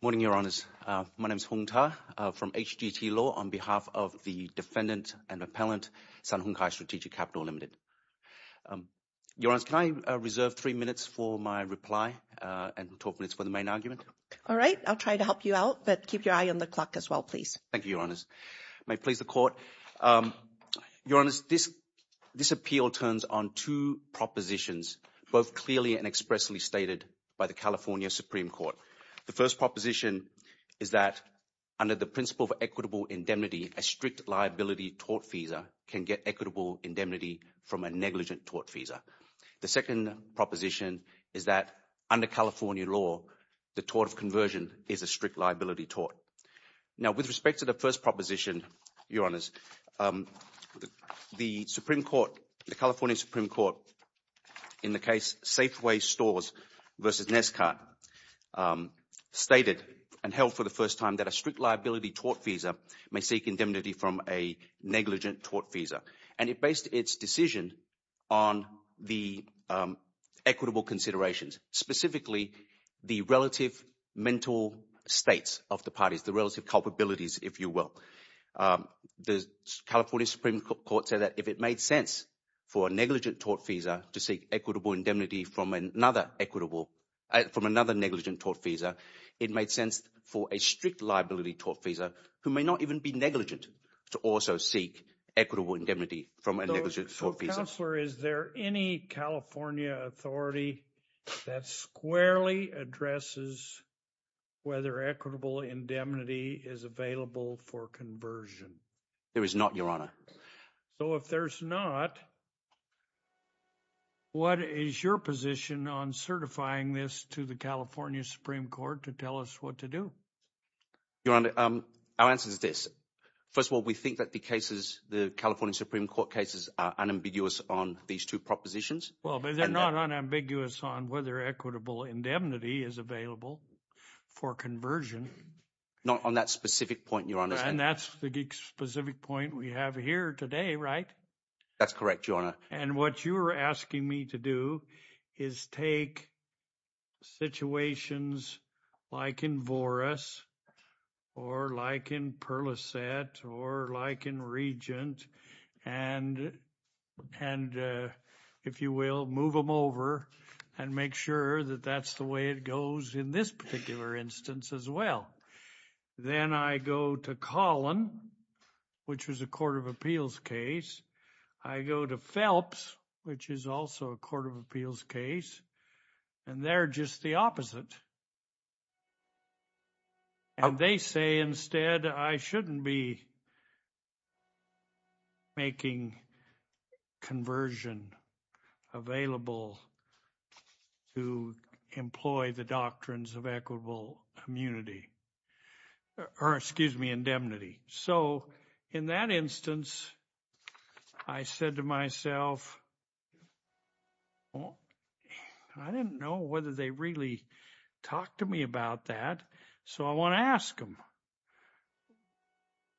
Morning, Your Honours. My name is Hung Ta from HGT Law on behalf of the defendant and appellant, Sun Hung Kai Strategic Capital, Ltd. Your Honours, can I reserve three minutes for my reply and 12 minutes for the main argument? All right. I'll try to help you out, but keep your eye on the clock as well, please. Thank you, Your Honours. May it please the Court. Your Honours, this appeal turns on two propositions, both clearly and expressly stated by the California Supreme Court. The first proposition is that under the principle of equitable indemnity, a strict liability tort visa can get equitable indemnity from a negligent tort visa. The second proposition is that under California law, the tort of conversion is a strict liability tort. Now, with respect to the first proposition, Your Honours, the Supreme Court, the California Supreme Court, in the case Safeway Stores v. Neskart, stated and held for the first time that a strict liability tort visa may seek indemnity from a negligent tort visa. And it based its decision on the equitable considerations, specifically the relative mental states of the parties, the relative culpabilities, if you will. The California Supreme Court said that if it made sense for a negligent tort visa to seek equitable indemnity from another negligent tort visa, it made sense for a strict liability tort visa, who may not even be negligent, to also seek equitable indemnity from a negligent tort visa. So, Councillor, is there any California authority that squarely addresses whether equitable indemnity is available for conversion? There is not, Your Honour. So if there's not, what is your position on certifying this to the California Supreme Court to tell us what to do? Your Honour, our answer is this. First of all, we think that the cases, the California Supreme Court cases, are unambiguous on these two propositions. Well, but they're not unambiguous on whether equitable indemnity is available for conversion. Not on that specific point, Your Honour. And that's the specific point we have here today, right? That's correct, Your Honour. And what you're asking me to do is take situations like in Voris or like in Perlisette or like in Regent and, if you will, move them over and make sure that that's the way it goes in this particular instance as well. Then I go to Collin, which was a court of appeals case. I go to Phelps, which is also a court of appeals case, and they're just the opposite. And they say instead, I shouldn't be making conversion available to employ the doctrines of equitable immunity or, excuse me, indemnity. So in that instance, I said to myself, I didn't know whether they really talked to me about that, so I want to ask them,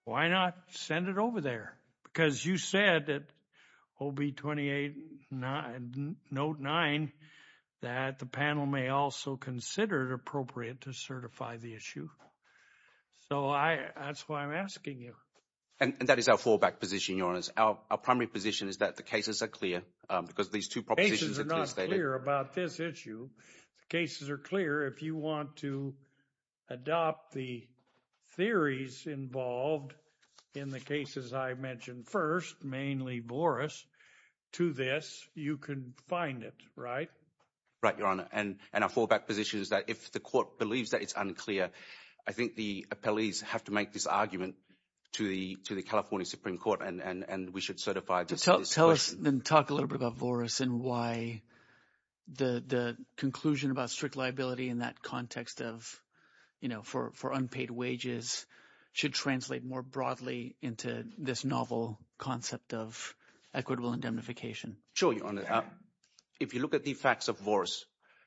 why not send it over there? Because you said that OB 28, Note 9, that the panel may also consider it appropriate to certify the issue. So that's why I'm asking you. And that is our fallback position, Your Honour. Our primary position is that the cases are clear because these two propositions are clear. The cases are not clear about this issue. The cases are clear. If you want to adopt the theories involved in the cases I mentioned first, mainly Boris, to this, you can find it, right? Right, Your Honour, and our fallback position is that if the court believes that it's unclear, I think the appellees have to make this argument to the California Supreme Court, and we should certify this question. Tell us and talk a little bit about Boris and why the conclusion about strict liability in that context of – for unpaid wages should translate more broadly into this novel concept of equitable indemnification. Sure, Your Honour. If you look at the facts of Boris,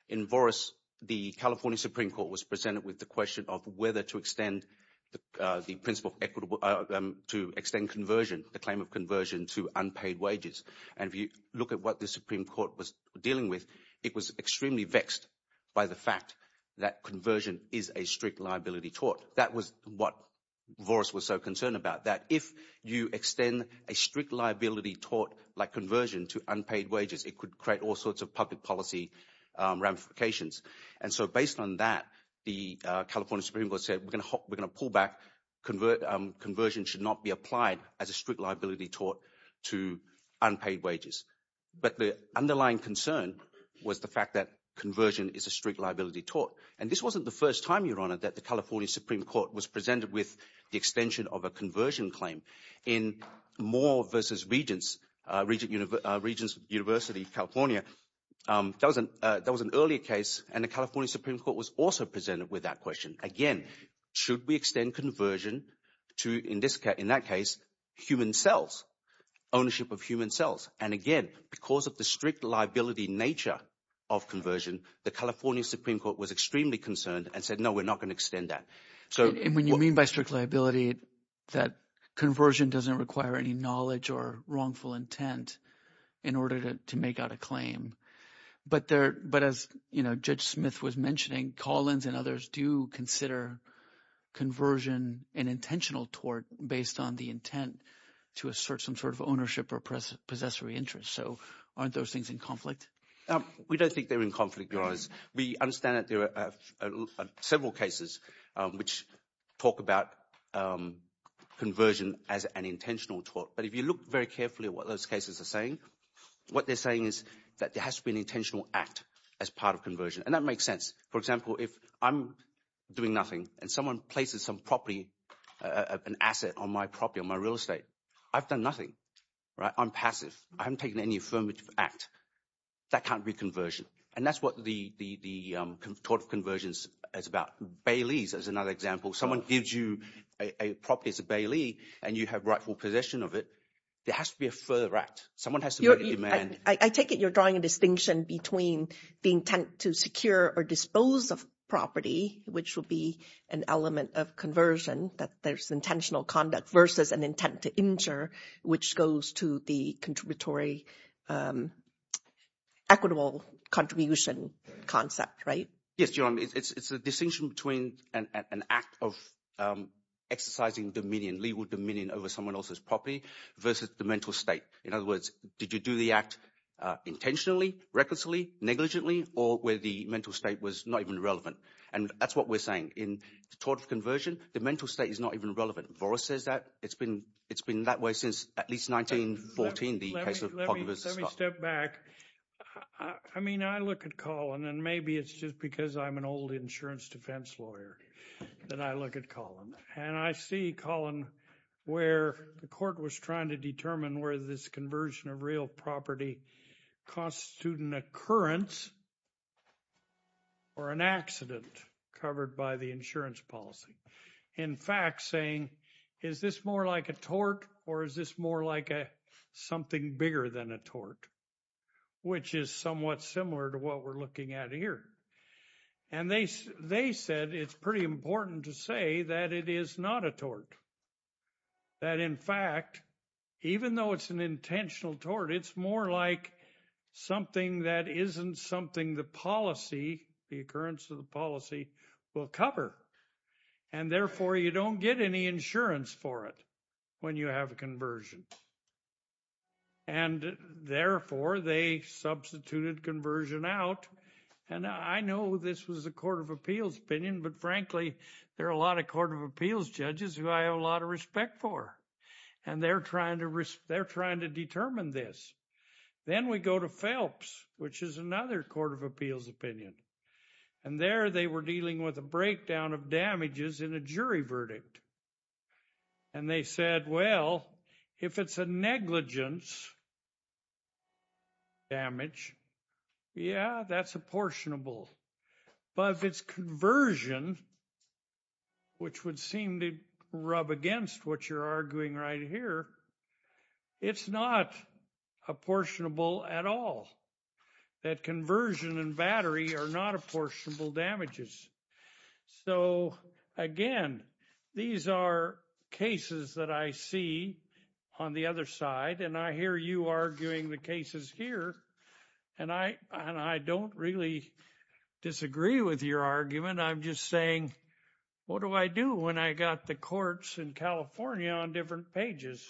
in Boris the California Supreme Court was presented with the question of whether to extend the principle of equitable – to extend conversion, the claim of conversion to unpaid wages. And if you look at what the Supreme Court was dealing with, it was extremely vexed by the fact that conversion is a strict liability tort. That was what Boris was so concerned about, that if you extend a strict liability tort like conversion to unpaid wages, it could create all sorts of public policy ramifications. And so based on that, the California Supreme Court said we're going to pull back, conversion should not be applied as a strict liability tort to unpaid wages. But the underlying concern was the fact that conversion is a strict liability tort. And this wasn't the first time, Your Honour, that the California Supreme Court was presented with the extension of a conversion claim. In Moore v. Regents, Regents University, California, that was an earlier case and the California Supreme Court was also presented with that question. Again, should we extend conversion to, in that case, human cells, ownership of human cells? And again, because of the strict liability nature of conversion, the California Supreme Court was extremely concerned and said no, we're not going to extend that. So – Conversion doesn't require any knowledge or wrongful intent in order to make out a claim. But as Judge Smith was mentioning, Collins and others do consider conversion an intentional tort based on the intent to assert some sort of ownership or possessory interest. So aren't those things in conflict? We don't think they're in conflict, Your Honours. We understand that there are several cases which talk about conversion as an intentional tort. But if you look very carefully at what those cases are saying, what they're saying is that there has to be an intentional act as part of conversion. And that makes sense. For example, if I'm doing nothing and someone places some property, an asset on my property, on my real estate, I've done nothing. I'm passive. I haven't taken any affirmative act. That can't be conversion. And that's what the tort of conversion is about. Bailey's is another example. Someone gives you a property as a Bailey and you have rightful possession of it. There has to be a further act. Someone has to make a demand. I take it you're drawing a distinction between the intent to secure or dispose of property, which would be an element of conversion, that there's intentional conduct, versus an intent to injure, which goes to the contributory equitable contribution concept, right? Yes, Your Honour. It's a distinction between an act of exercising dominion, legal dominion over someone else's property versus the mental state. In other words, did you do the act intentionally, recklessly, negligently, or where the mental state was not even relevant? And that's what we're saying. In tort of conversion, the mental state is not even relevant. Boris says that. It's been that way since at least 1914, the case of Pogge versus Scott. Let me step back. I mean, I look at Colin, and maybe it's just because I'm an old insurance defense lawyer that I look at Colin. And I see Colin where the court was trying to determine whether this conversion of real property constitutes an occurrence or an accident covered by the insurance policy. In fact, saying, is this more like a tort or is this more like something bigger than a tort, which is somewhat similar to what we're looking at here? And they said it's pretty important to say that it is not a tort. That in fact, even though it's an intentional tort, it's more like something that isn't something the policy, the occurrence of the policy will cover. And therefore, you don't get any insurance for it when you have a conversion. And therefore, they substituted conversion out. And I know this was a court of appeals opinion, but frankly, there are a lot of court of appeals judges who I have a lot of respect for. And they're trying to determine this. Then we go to Phelps, which is another court of appeals opinion. And there they were dealing with a breakdown of damages in a jury verdict. And they said, well, if it's a negligence damage, yeah, that's apportionable. But if it's conversion, which would seem to rub against what you're arguing right here, it's not apportionable at all. That conversion and battery are not apportionable damages. So, again, these are cases that I see on the other side, and I hear you arguing the cases here. And I and I don't really disagree with your argument. I'm just saying, what do I do when I got the courts in California on different pages?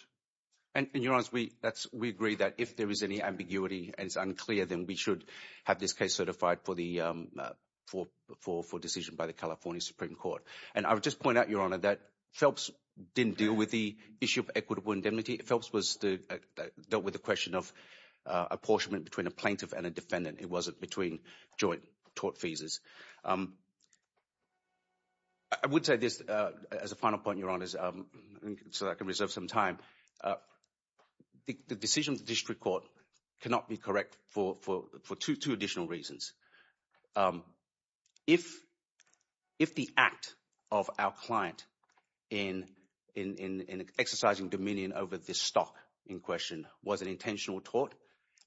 And in your eyes, we that's we agree that if there is any ambiguity and it's unclear, then we should have this case certified for the for for for decision by the California Supreme Court. And I would just point out, Your Honor, that Phelps didn't deal with the issue of equitable indemnity. Phelps was dealt with the question of apportionment between a plaintiff and a defendant. It wasn't between joint tort phases. I would say this as a final point, Your Honor, so I can reserve some time. The decision of the district court cannot be correct for two additional reasons. If if the act of our client in in in exercising dominion over this stock in question was an intentional tort,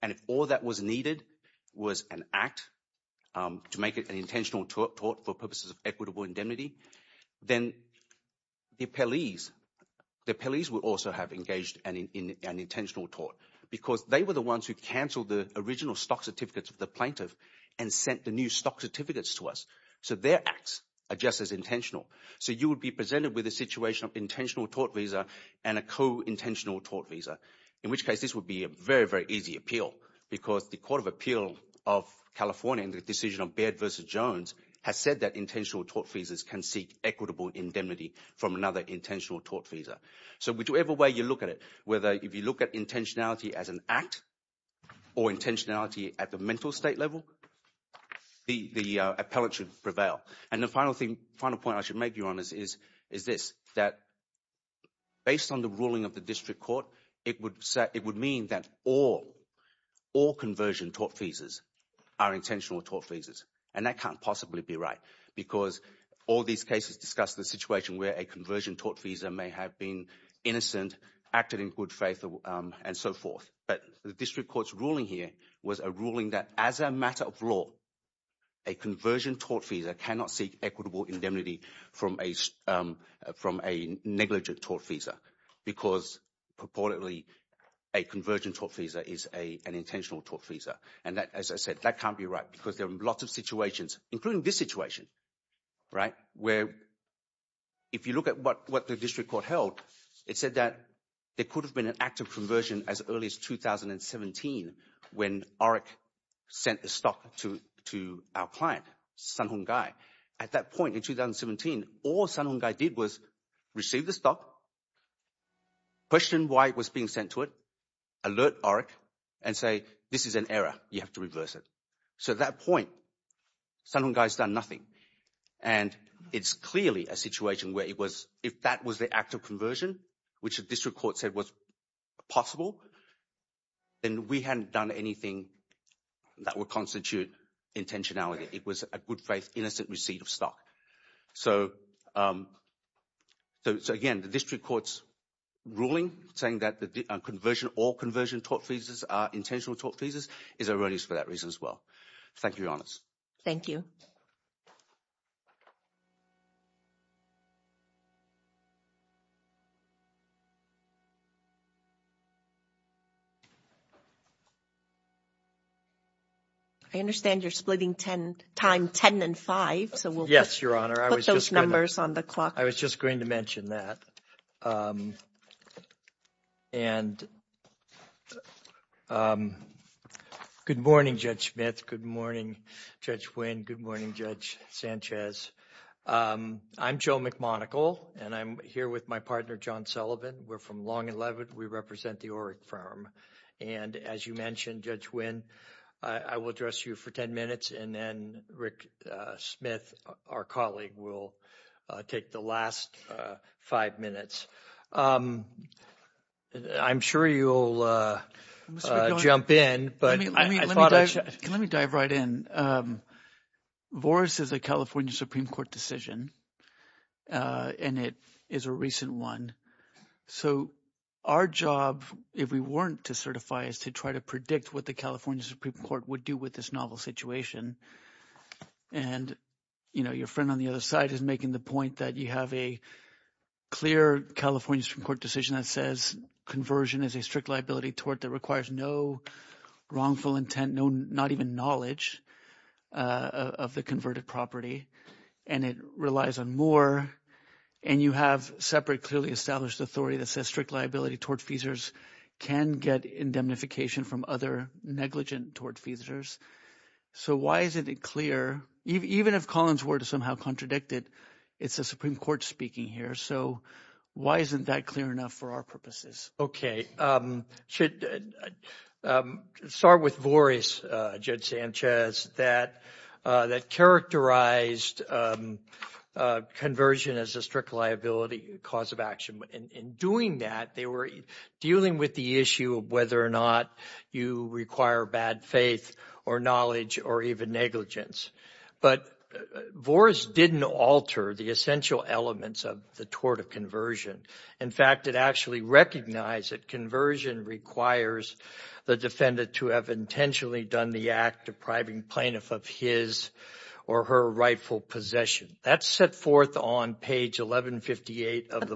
and if all that was needed was an act to make it an intentional tort for purposes of equitable indemnity, then the police, the police would also have engaged in an intentional tort because they were the ones who canceled the original stock certificates of the plaintiff. And sent the new stock certificates to us, so their acts are just as intentional. So you would be presented with a situation of intentional tort visa and a co intentional tort visa, in which case this would be a very, very easy appeal because the Court of Appeal of California and the decision of Baird versus Jones has said that intentional tort visas can seek equitable indemnity from another intentional tort visa. So whichever way you look at it, whether if you look at intentionality as an act or intentionality at the mental state level, the appellate should prevail. And the final thing, final point I should make, Your Honor, is is this, that based on the ruling of the district court, it would it would mean that all all conversion tort visas are intentional tort visas. And that can't possibly be right because all these cases discuss the situation where a conversion tort visa may have been innocent, acted in good faith and so forth. But the district court's ruling here was a ruling that as a matter of law, a conversion tort visa cannot seek equitable indemnity from a from a negligent tort visa because purportedly a conversion tort visa is a an intentional tort visa. And that, as I said, that can't be right because there are lots of situations, including this situation, right, where if you look at what what the district court held, it said that there could have been an active conversion as early as 2017 when OREC sent the stock to to our client, Sun Hung Gai. At that point in 2017, all Sun Hung Gai did was receive the stock, question why it was being sent to it, alert OREC and say this is an error, you have to reverse it. So at that point, Sun Hung Gai has done nothing. And it's clearly a situation where it was if that was the active conversion, which the district court said was possible, then we hadn't done anything that would constitute intentionality. It was a good faith, innocent receipt of stock. So. So again, the district court's ruling saying that the conversion or conversion tort visas are intentional tort visas is erroneous for that reason as well. Thank you, Your Honors. Thank you. I understand you're splitting time ten and five. So we'll put those numbers on the clock. I was just going to mention that. And good morning, Judge Smith. Good morning, Judge Wynn. Good morning, Judge Sanchez. I'm Joe McMonagle and I'm here with my partner, John Sullivan. We're from Long and Leavitt. We represent the OREC firm. And as you mentioned, Judge Wynn, I will address you for ten minutes and then Rick Smith, our colleague, will take the last five minutes. I'm sure you'll jump in, but I thought I should. Let me dive right in. Boris is a California Supreme Court decision, and it is a recent one. So our job, if we weren't to certify, is to try to predict what the California Supreme Court would do with this novel situation. And your friend on the other side is making the point that you have a clear California Supreme Court decision that says conversion is a strict liability tort that requires no wrongful intent, not even knowledge of the converted property. And it relies on more, and you have separate, clearly established authority that says strict liability tort feasors can get indemnification from other negligent tort feasors. So why isn't it clear? Even if Colin's word is somehow contradicted, it's the Supreme Court speaking here. So why isn't that clear enough for our purposes? Okay. I'll start with Boris, Judge Sanchez, that characterized conversion as a strict liability cause of action. In doing that, they were dealing with the issue of whether or not you require bad faith or knowledge or even negligence. But Boris didn't alter the essential elements of the tort of conversion. In fact, it actually recognized that conversion requires the defendant to have intentionally done the act depriving plaintiff of his or her rightful possession. That's set forth on page 1158 of the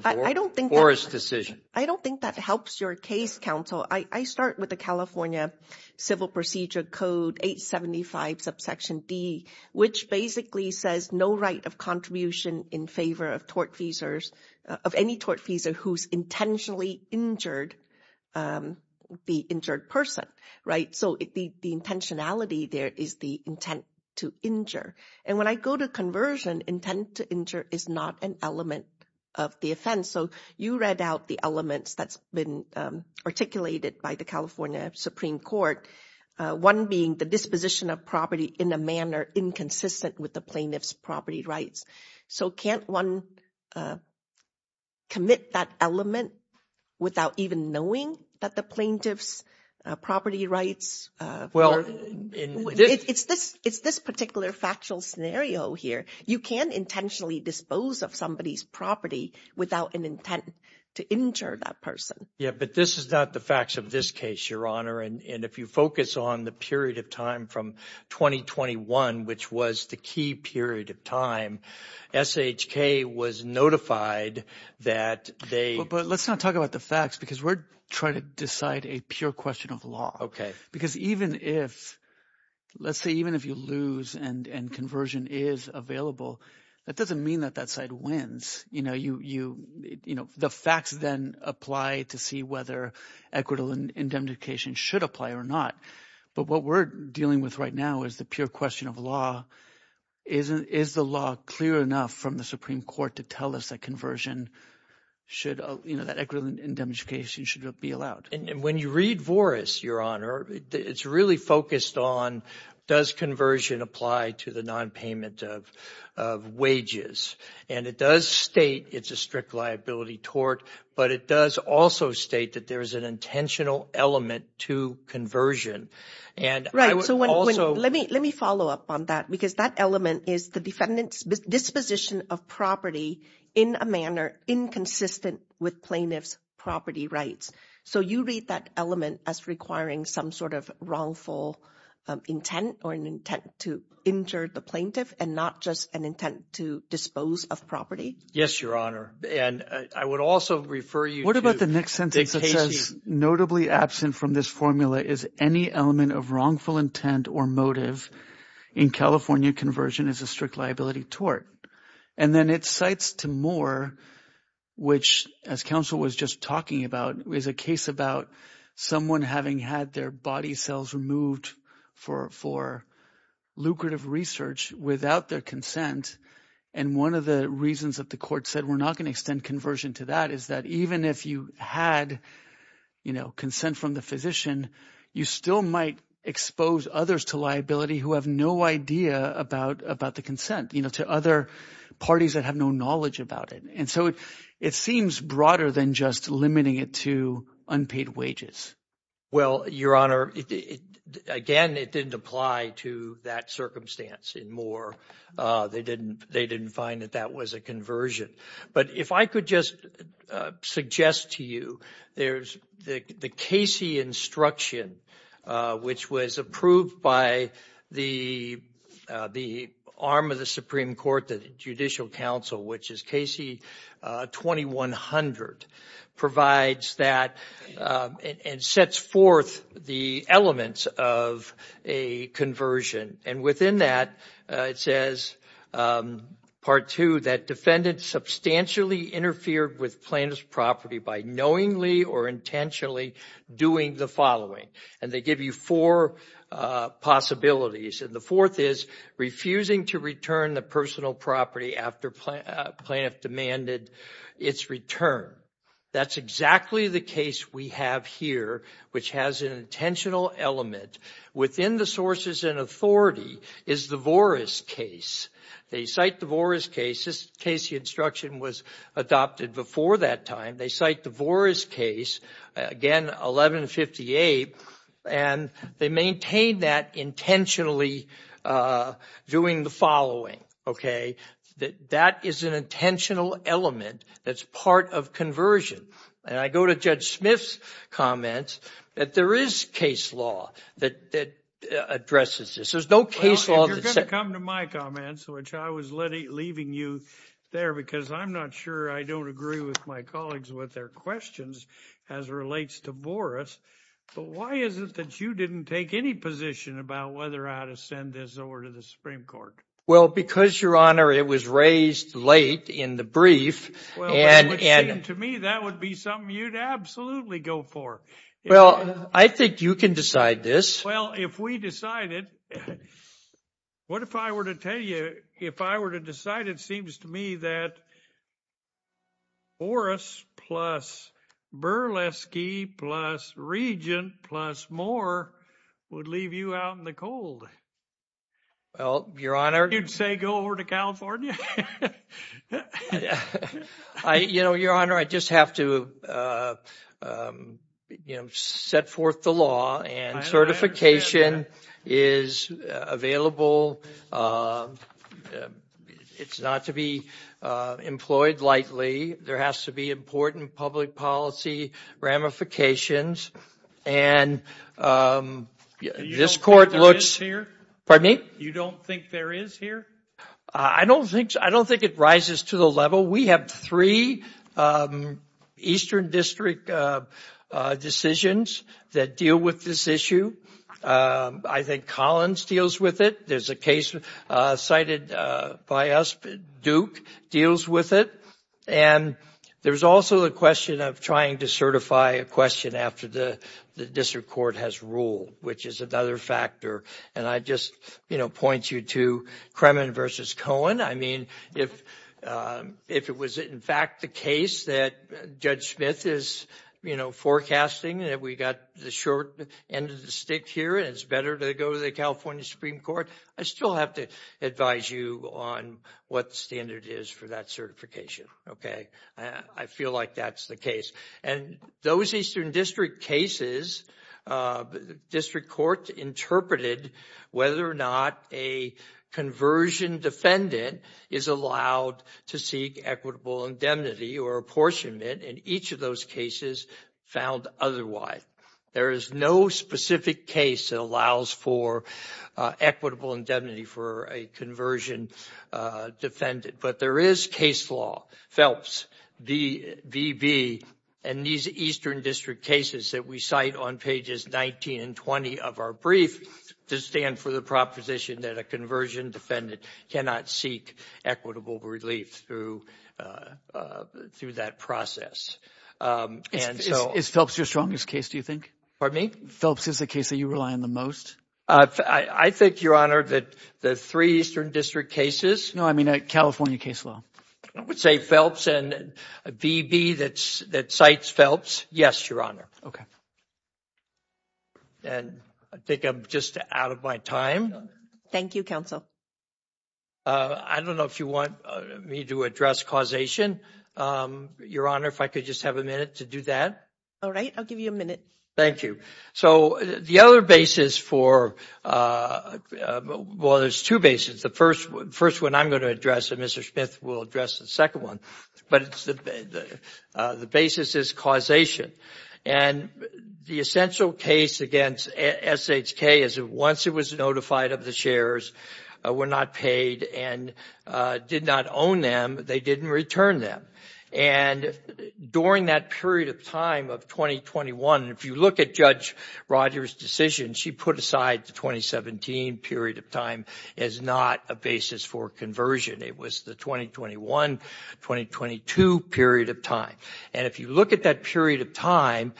Boris decision. I don't think that helps your case, counsel. I start with the California Civil Procedure Code 875, subsection D, which basically says no right of contribution in favor of tort feasors, of any tort feasor who's intentionally injured the injured person. Right. So the intentionality there is the intent to injure. And when I go to conversion, intent to injure is not an element of the offense. So you read out the elements that's been articulated by the California Supreme Court, one being the disposition of property in a manner inconsistent with the plaintiff's property rights. So can't one commit that element without even knowing that the plaintiff's property rights? It's this particular factual scenario here. You can't intentionally dispose of somebody's property without an intent to injure that person. Yeah, but this is not the facts of this case, Your Honor. And if you focus on the period of time from 2021, which was the key period of time, SHK was notified that they – But let's not talk about the facts because we're trying to decide a pure question of law because even if – let's say even if you lose and conversion is available, that doesn't mean that that side wins. The facts then apply to see whether equitable indemnification should apply or not. But what we're dealing with right now is the pure question of law. Is the law clear enough from the Supreme Court to tell us that conversion should – that equitable indemnification should be allowed? And when you read Voris, Your Honor, it's really focused on does conversion apply to the nonpayment of wages. And it does state it's a strict liability tort, but it does also state that there is an intentional element to conversion. And I would also – Right. So let me follow up on that because that element is the defendant's disposition of property in a manner inconsistent with plaintiff's property rights. So you read that element as requiring some sort of wrongful intent or an intent to injure the plaintiff and not just an intent to dispose of property? Yes, Your Honor, and I would also refer you to – What about the next sentence that says notably absent from this formula is any element of wrongful intent or motive in California conversion is a strict liability tort? And then it cites to Moore, which as counsel was just talking about, is a case about someone having had their body cells removed for lucrative research without their consent. And one of the reasons that the court said we're not going to extend conversion to that is that even if you had consent from the physician, you still might expose others to liability who have no idea about the consent to other parties that have no knowledge about it. And so it seems broader than just limiting it to unpaid wages. Well, Your Honor, again, it didn't apply to that circumstance in Moore. They didn't find that that was a conversion. But if I could just suggest to you there's the Casey instruction, which was approved by the arm of the Supreme Court, the Judicial Council, which is Casey 2100, provides that and sets forth the elements of a conversion. And within that, it says, part two, that defendant substantially interfered with plaintiff's property by knowingly or intentionally doing the following. And they give you four possibilities. And the fourth is refusing to return the personal property after plaintiff demanded its return. That's exactly the case we have here, which has an intentional element. Within the sources and authority is the Voris case. They cite the Voris case. This Casey instruction was adopted before that time. They cite the Voris case, again, 1158, and they maintain that intentionally doing the following. That is an intentional element that's part of conversion. And I go to Judge Smith's comments that there is case law that addresses this. There's no case law. You're going to come to my comments, which I was leaving you there because I'm not sure I don't agree with my colleagues with their questions as relates to Voris. But why is it that you didn't take any position about whether I had to send this over to the Supreme Court? Well, because, Your Honor, it was raised late in the brief. Well, it would seem to me that would be something you'd absolutely go for. Well, I think you can decide this. Well, if we decided, what if I were to tell you, if I were to decide, it seems to me that Voris plus Berleski plus Regent plus Moore would leave you out in the cold. Well, Your Honor. You'd say go over to California? You know, Your Honor, I just have to, you know, set forth the law and certification is available. It's not to be employed lightly. There has to be important public policy ramifications. And this court looks... Pardon me? You don't think there is here? I don't think it rises to the level. We have three Eastern District decisions that deal with this issue. I think Collins deals with it. There's a case cited by us. Duke deals with it. And there's also the question of trying to certify a question after the district court has ruled, which is another factor. And I just, you know, point you to Kremen versus Cohen. I mean, if it was in fact the case that Judge Smith is, you know, forecasting that we got the short end of the stick here and it's better to go to the California Supreme Court, I still have to advise you on what standard is for that certification. Okay? I feel like that's the case. And those Eastern District cases, district court interpreted whether or not a conversion defendant is allowed to seek equitable indemnity or apportionment. And each of those cases found otherwise. There is no specific case that allows for equitable indemnity for a conversion defendant. But there is case law, Phelps, VB, and these Eastern District cases that we cite on pages 19 and 20 of our brief to stand for the proposition that a conversion defendant cannot seek equitable relief through that process. Is Phelps your strongest case, do you think? Pardon me? Phelps is the case that you rely on the most? I think, Your Honor, that the three Eastern District cases. No, I mean a California case law. I would say Phelps and VB that cites Phelps. Yes, Your Honor. Okay. And I think I'm just out of my time. Thank you, Counsel. I don't know if you want me to address causation. Your Honor, if I could just have a minute to do that. All right. I'll give you a minute. Thank you. So the other basis for, well, there's two bases. The first one I'm going to address and Mr. Smith will address the second one. But the basis is causation. And the essential case against SHK is that once it was notified of the shares, were not paid and did not own them, they didn't return them. And during that period of time of 2021, if you look at Judge Rogers' decision, she put aside the 2017 period of time as not a basis for conversion. It was the 2021-2022 period of time. And if you look at that period of time,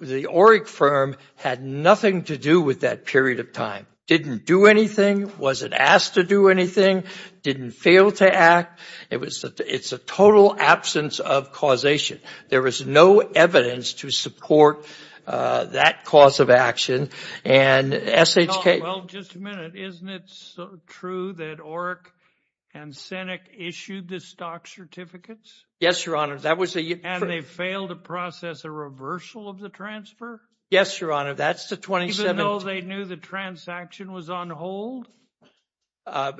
the ORIC firm had nothing to do with that period of time. Didn't do anything, wasn't asked to do anything, didn't fail to act. It's a total absence of causation. There was no evidence to support that cause of action. And SHK — Well, just a minute. Isn't it true that ORIC and SENEC issued the stock certificates? Yes, Your Honor. And they failed to process a reversal of the transfer? Yes, Your Honor. Even though they knew the transaction was on hold?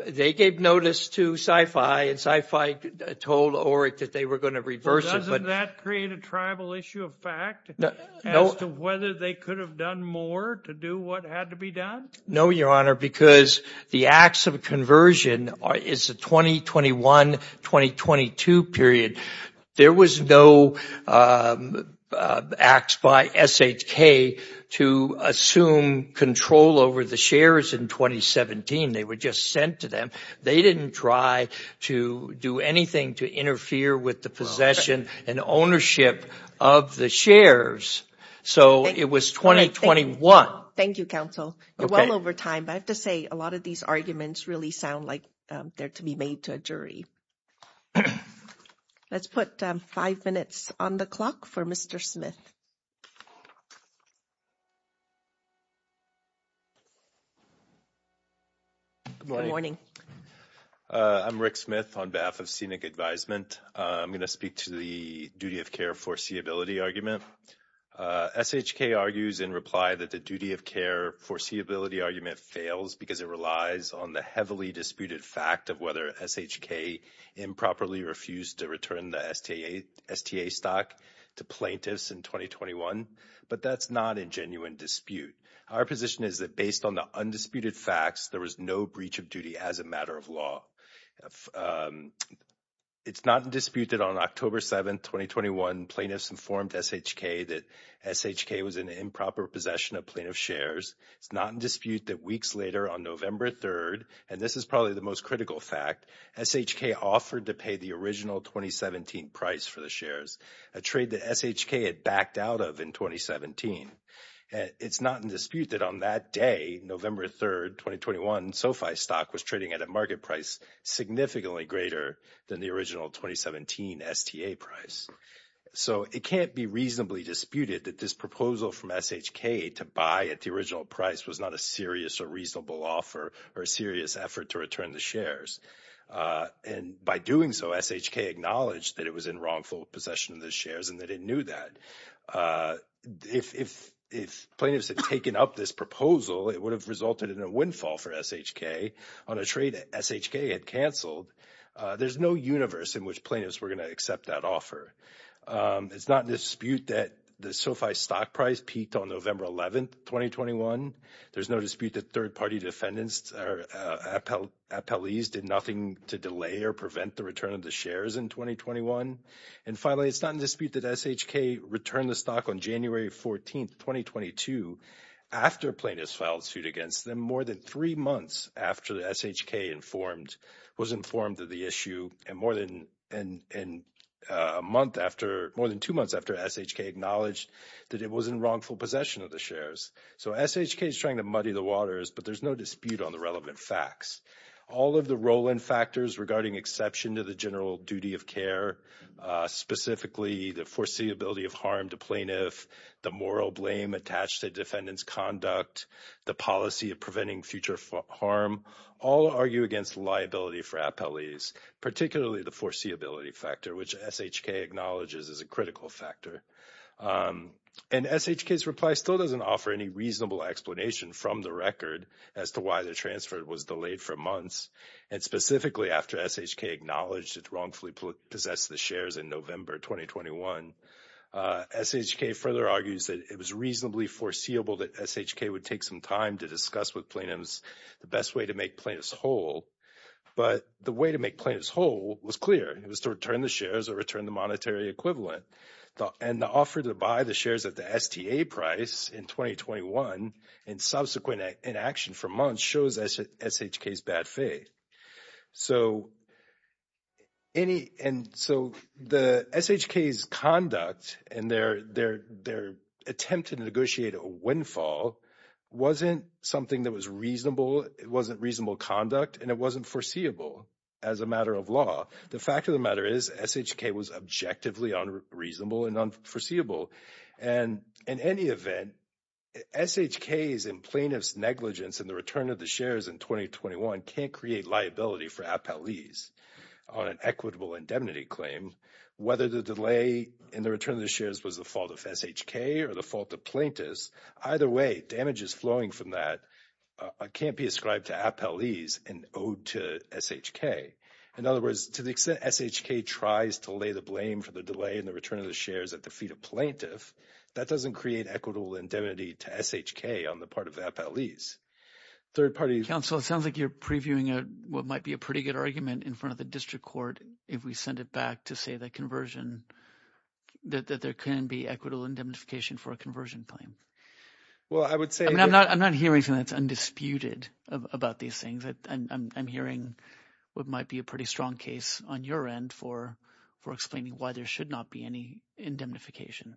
They gave notice to Sci-Fi and Sci-Fi told ORIC that they were going to reverse it. Well, doesn't that create a tribal issue of fact as to whether they could have done more to do what had to be done? No, Your Honor, because the acts of conversion is the 2021-2022 period. There was no acts by SHK to assume control over the shares in 2017. They were just sent to them. They didn't try to do anything to interfere with the possession and ownership of the shares. So it was 2021. Thank you, Counsel. You're well over time, but I have to say a lot of these arguments really sound like they're to be made to a jury. Let's put five minutes on the clock for Mr. Smith. Good morning. I'm Rick Smith on behalf of SENEC Advisement. I'm going to speak to the duty of care foreseeability argument. SHK argues in reply that the duty of care foreseeability argument fails because it relies on the heavily disputed fact of whether SHK improperly refused to return the STA stock to plaintiffs in 2021. But that's not a genuine dispute. Our position is that based on the undisputed facts, there was no breach of duty as a matter of law. It's not in dispute that on October 7th, 2021, plaintiffs informed SHK that SHK was in improper possession of plaintiff shares. It's not in dispute that weeks later on November 3rd, and this is probably the most critical fact, SHK offered to pay the original 2017 price for the shares, a trade that SHK had backed out of in 2017. It's not in dispute that on that day, November 3rd, 2021, SoFi stock was trading at a market price significantly greater than the original 2017 STA price. So it can't be reasonably disputed that this proposal from SHK to buy at the original price was not a serious or reasonable offer or a serious effort to return the shares. And by doing so, SHK acknowledged that it was in wrongful possession of the shares and that it knew that. If plaintiffs had taken up this proposal, it would have resulted in a windfall for SHK on a trade that SHK had canceled. There's no universe in which plaintiffs were going to accept that offer. It's not in dispute that the SoFi stock price peaked on November 11th, 2021. There's no dispute that third-party defendants or appellees did nothing to delay or prevent the return of the shares in 2021. And finally, it's not in dispute that SHK returned the stock on January 14th, 2022, after plaintiffs filed suit against them more than three months after SHK was informed of the issue. And more than two months after SHK acknowledged that it was in wrongful possession of the shares. So SHK is trying to muddy the waters, but there's no dispute on the relevant facts. All of the roll-in factors regarding exception to the general duty of care, specifically the foreseeability of harm to plaintiff, the moral blame attached to defendant's conduct, the policy of preventing future harm, all argue against liability for appellees, particularly the foreseeability factor, which SHK acknowledges is a critical factor. And SHK's reply still doesn't offer any reasonable explanation from the record as to why the transfer was delayed for months. And specifically after SHK acknowledged it wrongfully possessed the shares in November 2021, SHK further argues that it was reasonably foreseeable that SHK would take some time to discuss with plaintiffs the best way to make plaintiffs whole. But the way to make plaintiffs whole was clear. It was to return the shares or return the monetary equivalent. And the offer to buy the shares at the STA price in 2021 in subsequent inaction for months shows SHK's bad faith. So the SHK's conduct and their attempt to negotiate a windfall wasn't something that was reasonable. It wasn't reasonable conduct, and it wasn't foreseeable as a matter of law. The fact of the matter is SHK was objectively unreasonable and unforeseeable. And in any event, SHK's and plaintiff's negligence in the return of the shares in 2021 can't create liability for appellees on an equitable indemnity claim, whether the delay in the return of the shares was the fault of SHK or the fault of plaintiffs. Either way, damages flowing from that can't be ascribed to appellees and owed to SHK. In other words, to the extent SHK tries to lay the blame for the delay in the return of the shares at the feet of plaintiff, that doesn't create equitable indemnity to SHK on the part of the appellees. Third-party – Peter Robinson Council, it sounds like you're previewing what might be a pretty good argument in front of the district court if we send it back to say that conversion – that there can be equitable indemnification for a conversion claim. I'm not hearing something that's undisputed about these things. I'm hearing what might be a pretty strong case on your end for explaining why there should not be any indemnification.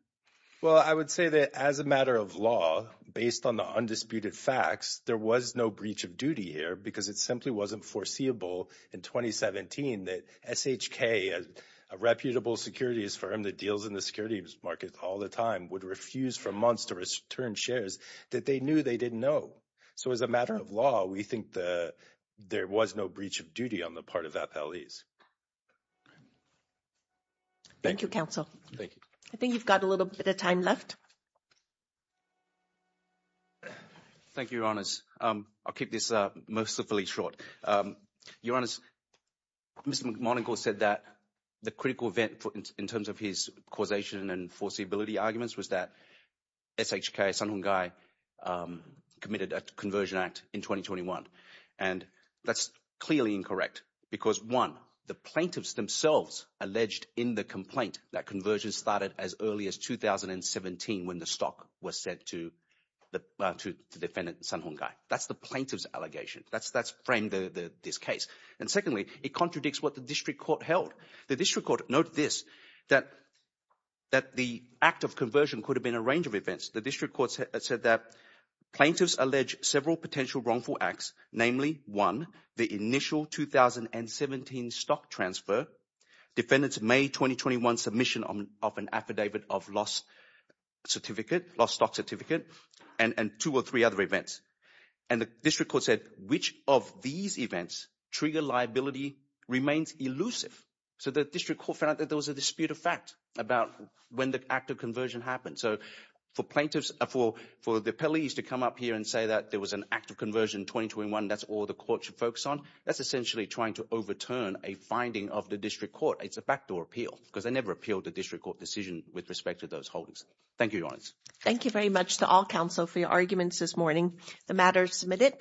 Well, I would say that as a matter of law, based on the undisputed facts, there was no breach of duty here because it simply wasn't foreseeable in 2017 that SHK, a reputable securities firm that deals in the securities market all the time, would refuse for months to return shares that they knew they didn't know. So as a matter of law, we think that there was no breach of duty on the part of the appellees. Thank you, counsel. Thank you. I think you've got a little bit of time left. Thank you, Your Honors. I'll keep this mercifully short. Your Honors, Mr. McMonigle said that the critical event in terms of his causation and foreseeability arguments was that SHK, Sun Hung Gai, committed a conversion act in 2021. And that's clearly incorrect because, one, the plaintiffs themselves alleged in the complaint that conversion started as early as 2017 when the stock was sent to the defendant, Sun Hung Gai. That's the plaintiff's allegation. That's framed in this case. And secondly, it contradicts what the district court held. The district court noted this, that the act of conversion could have been a range of events. The district court said that plaintiffs allege several potential wrongful acts, namely, one, the initial 2017 stock transfer, defendant's May 2021 submission of an affidavit of lost certificate, lost stock certificate, and two or three other events. And the district court said which of these events trigger liability remains elusive. So the district court found that there was a dispute of fact about when the act of conversion happened. So for plaintiffs, for the appellees to come up here and say that there was an act of conversion in 2021, that's all the court should focus on, that's essentially trying to overturn a finding of the district court. It's a backdoor appeal because they never appealed the district court decision with respect to those holdings. Thank you, Your Honor. Thank you very much to all counsel for your arguments this morning. The matter is submitted.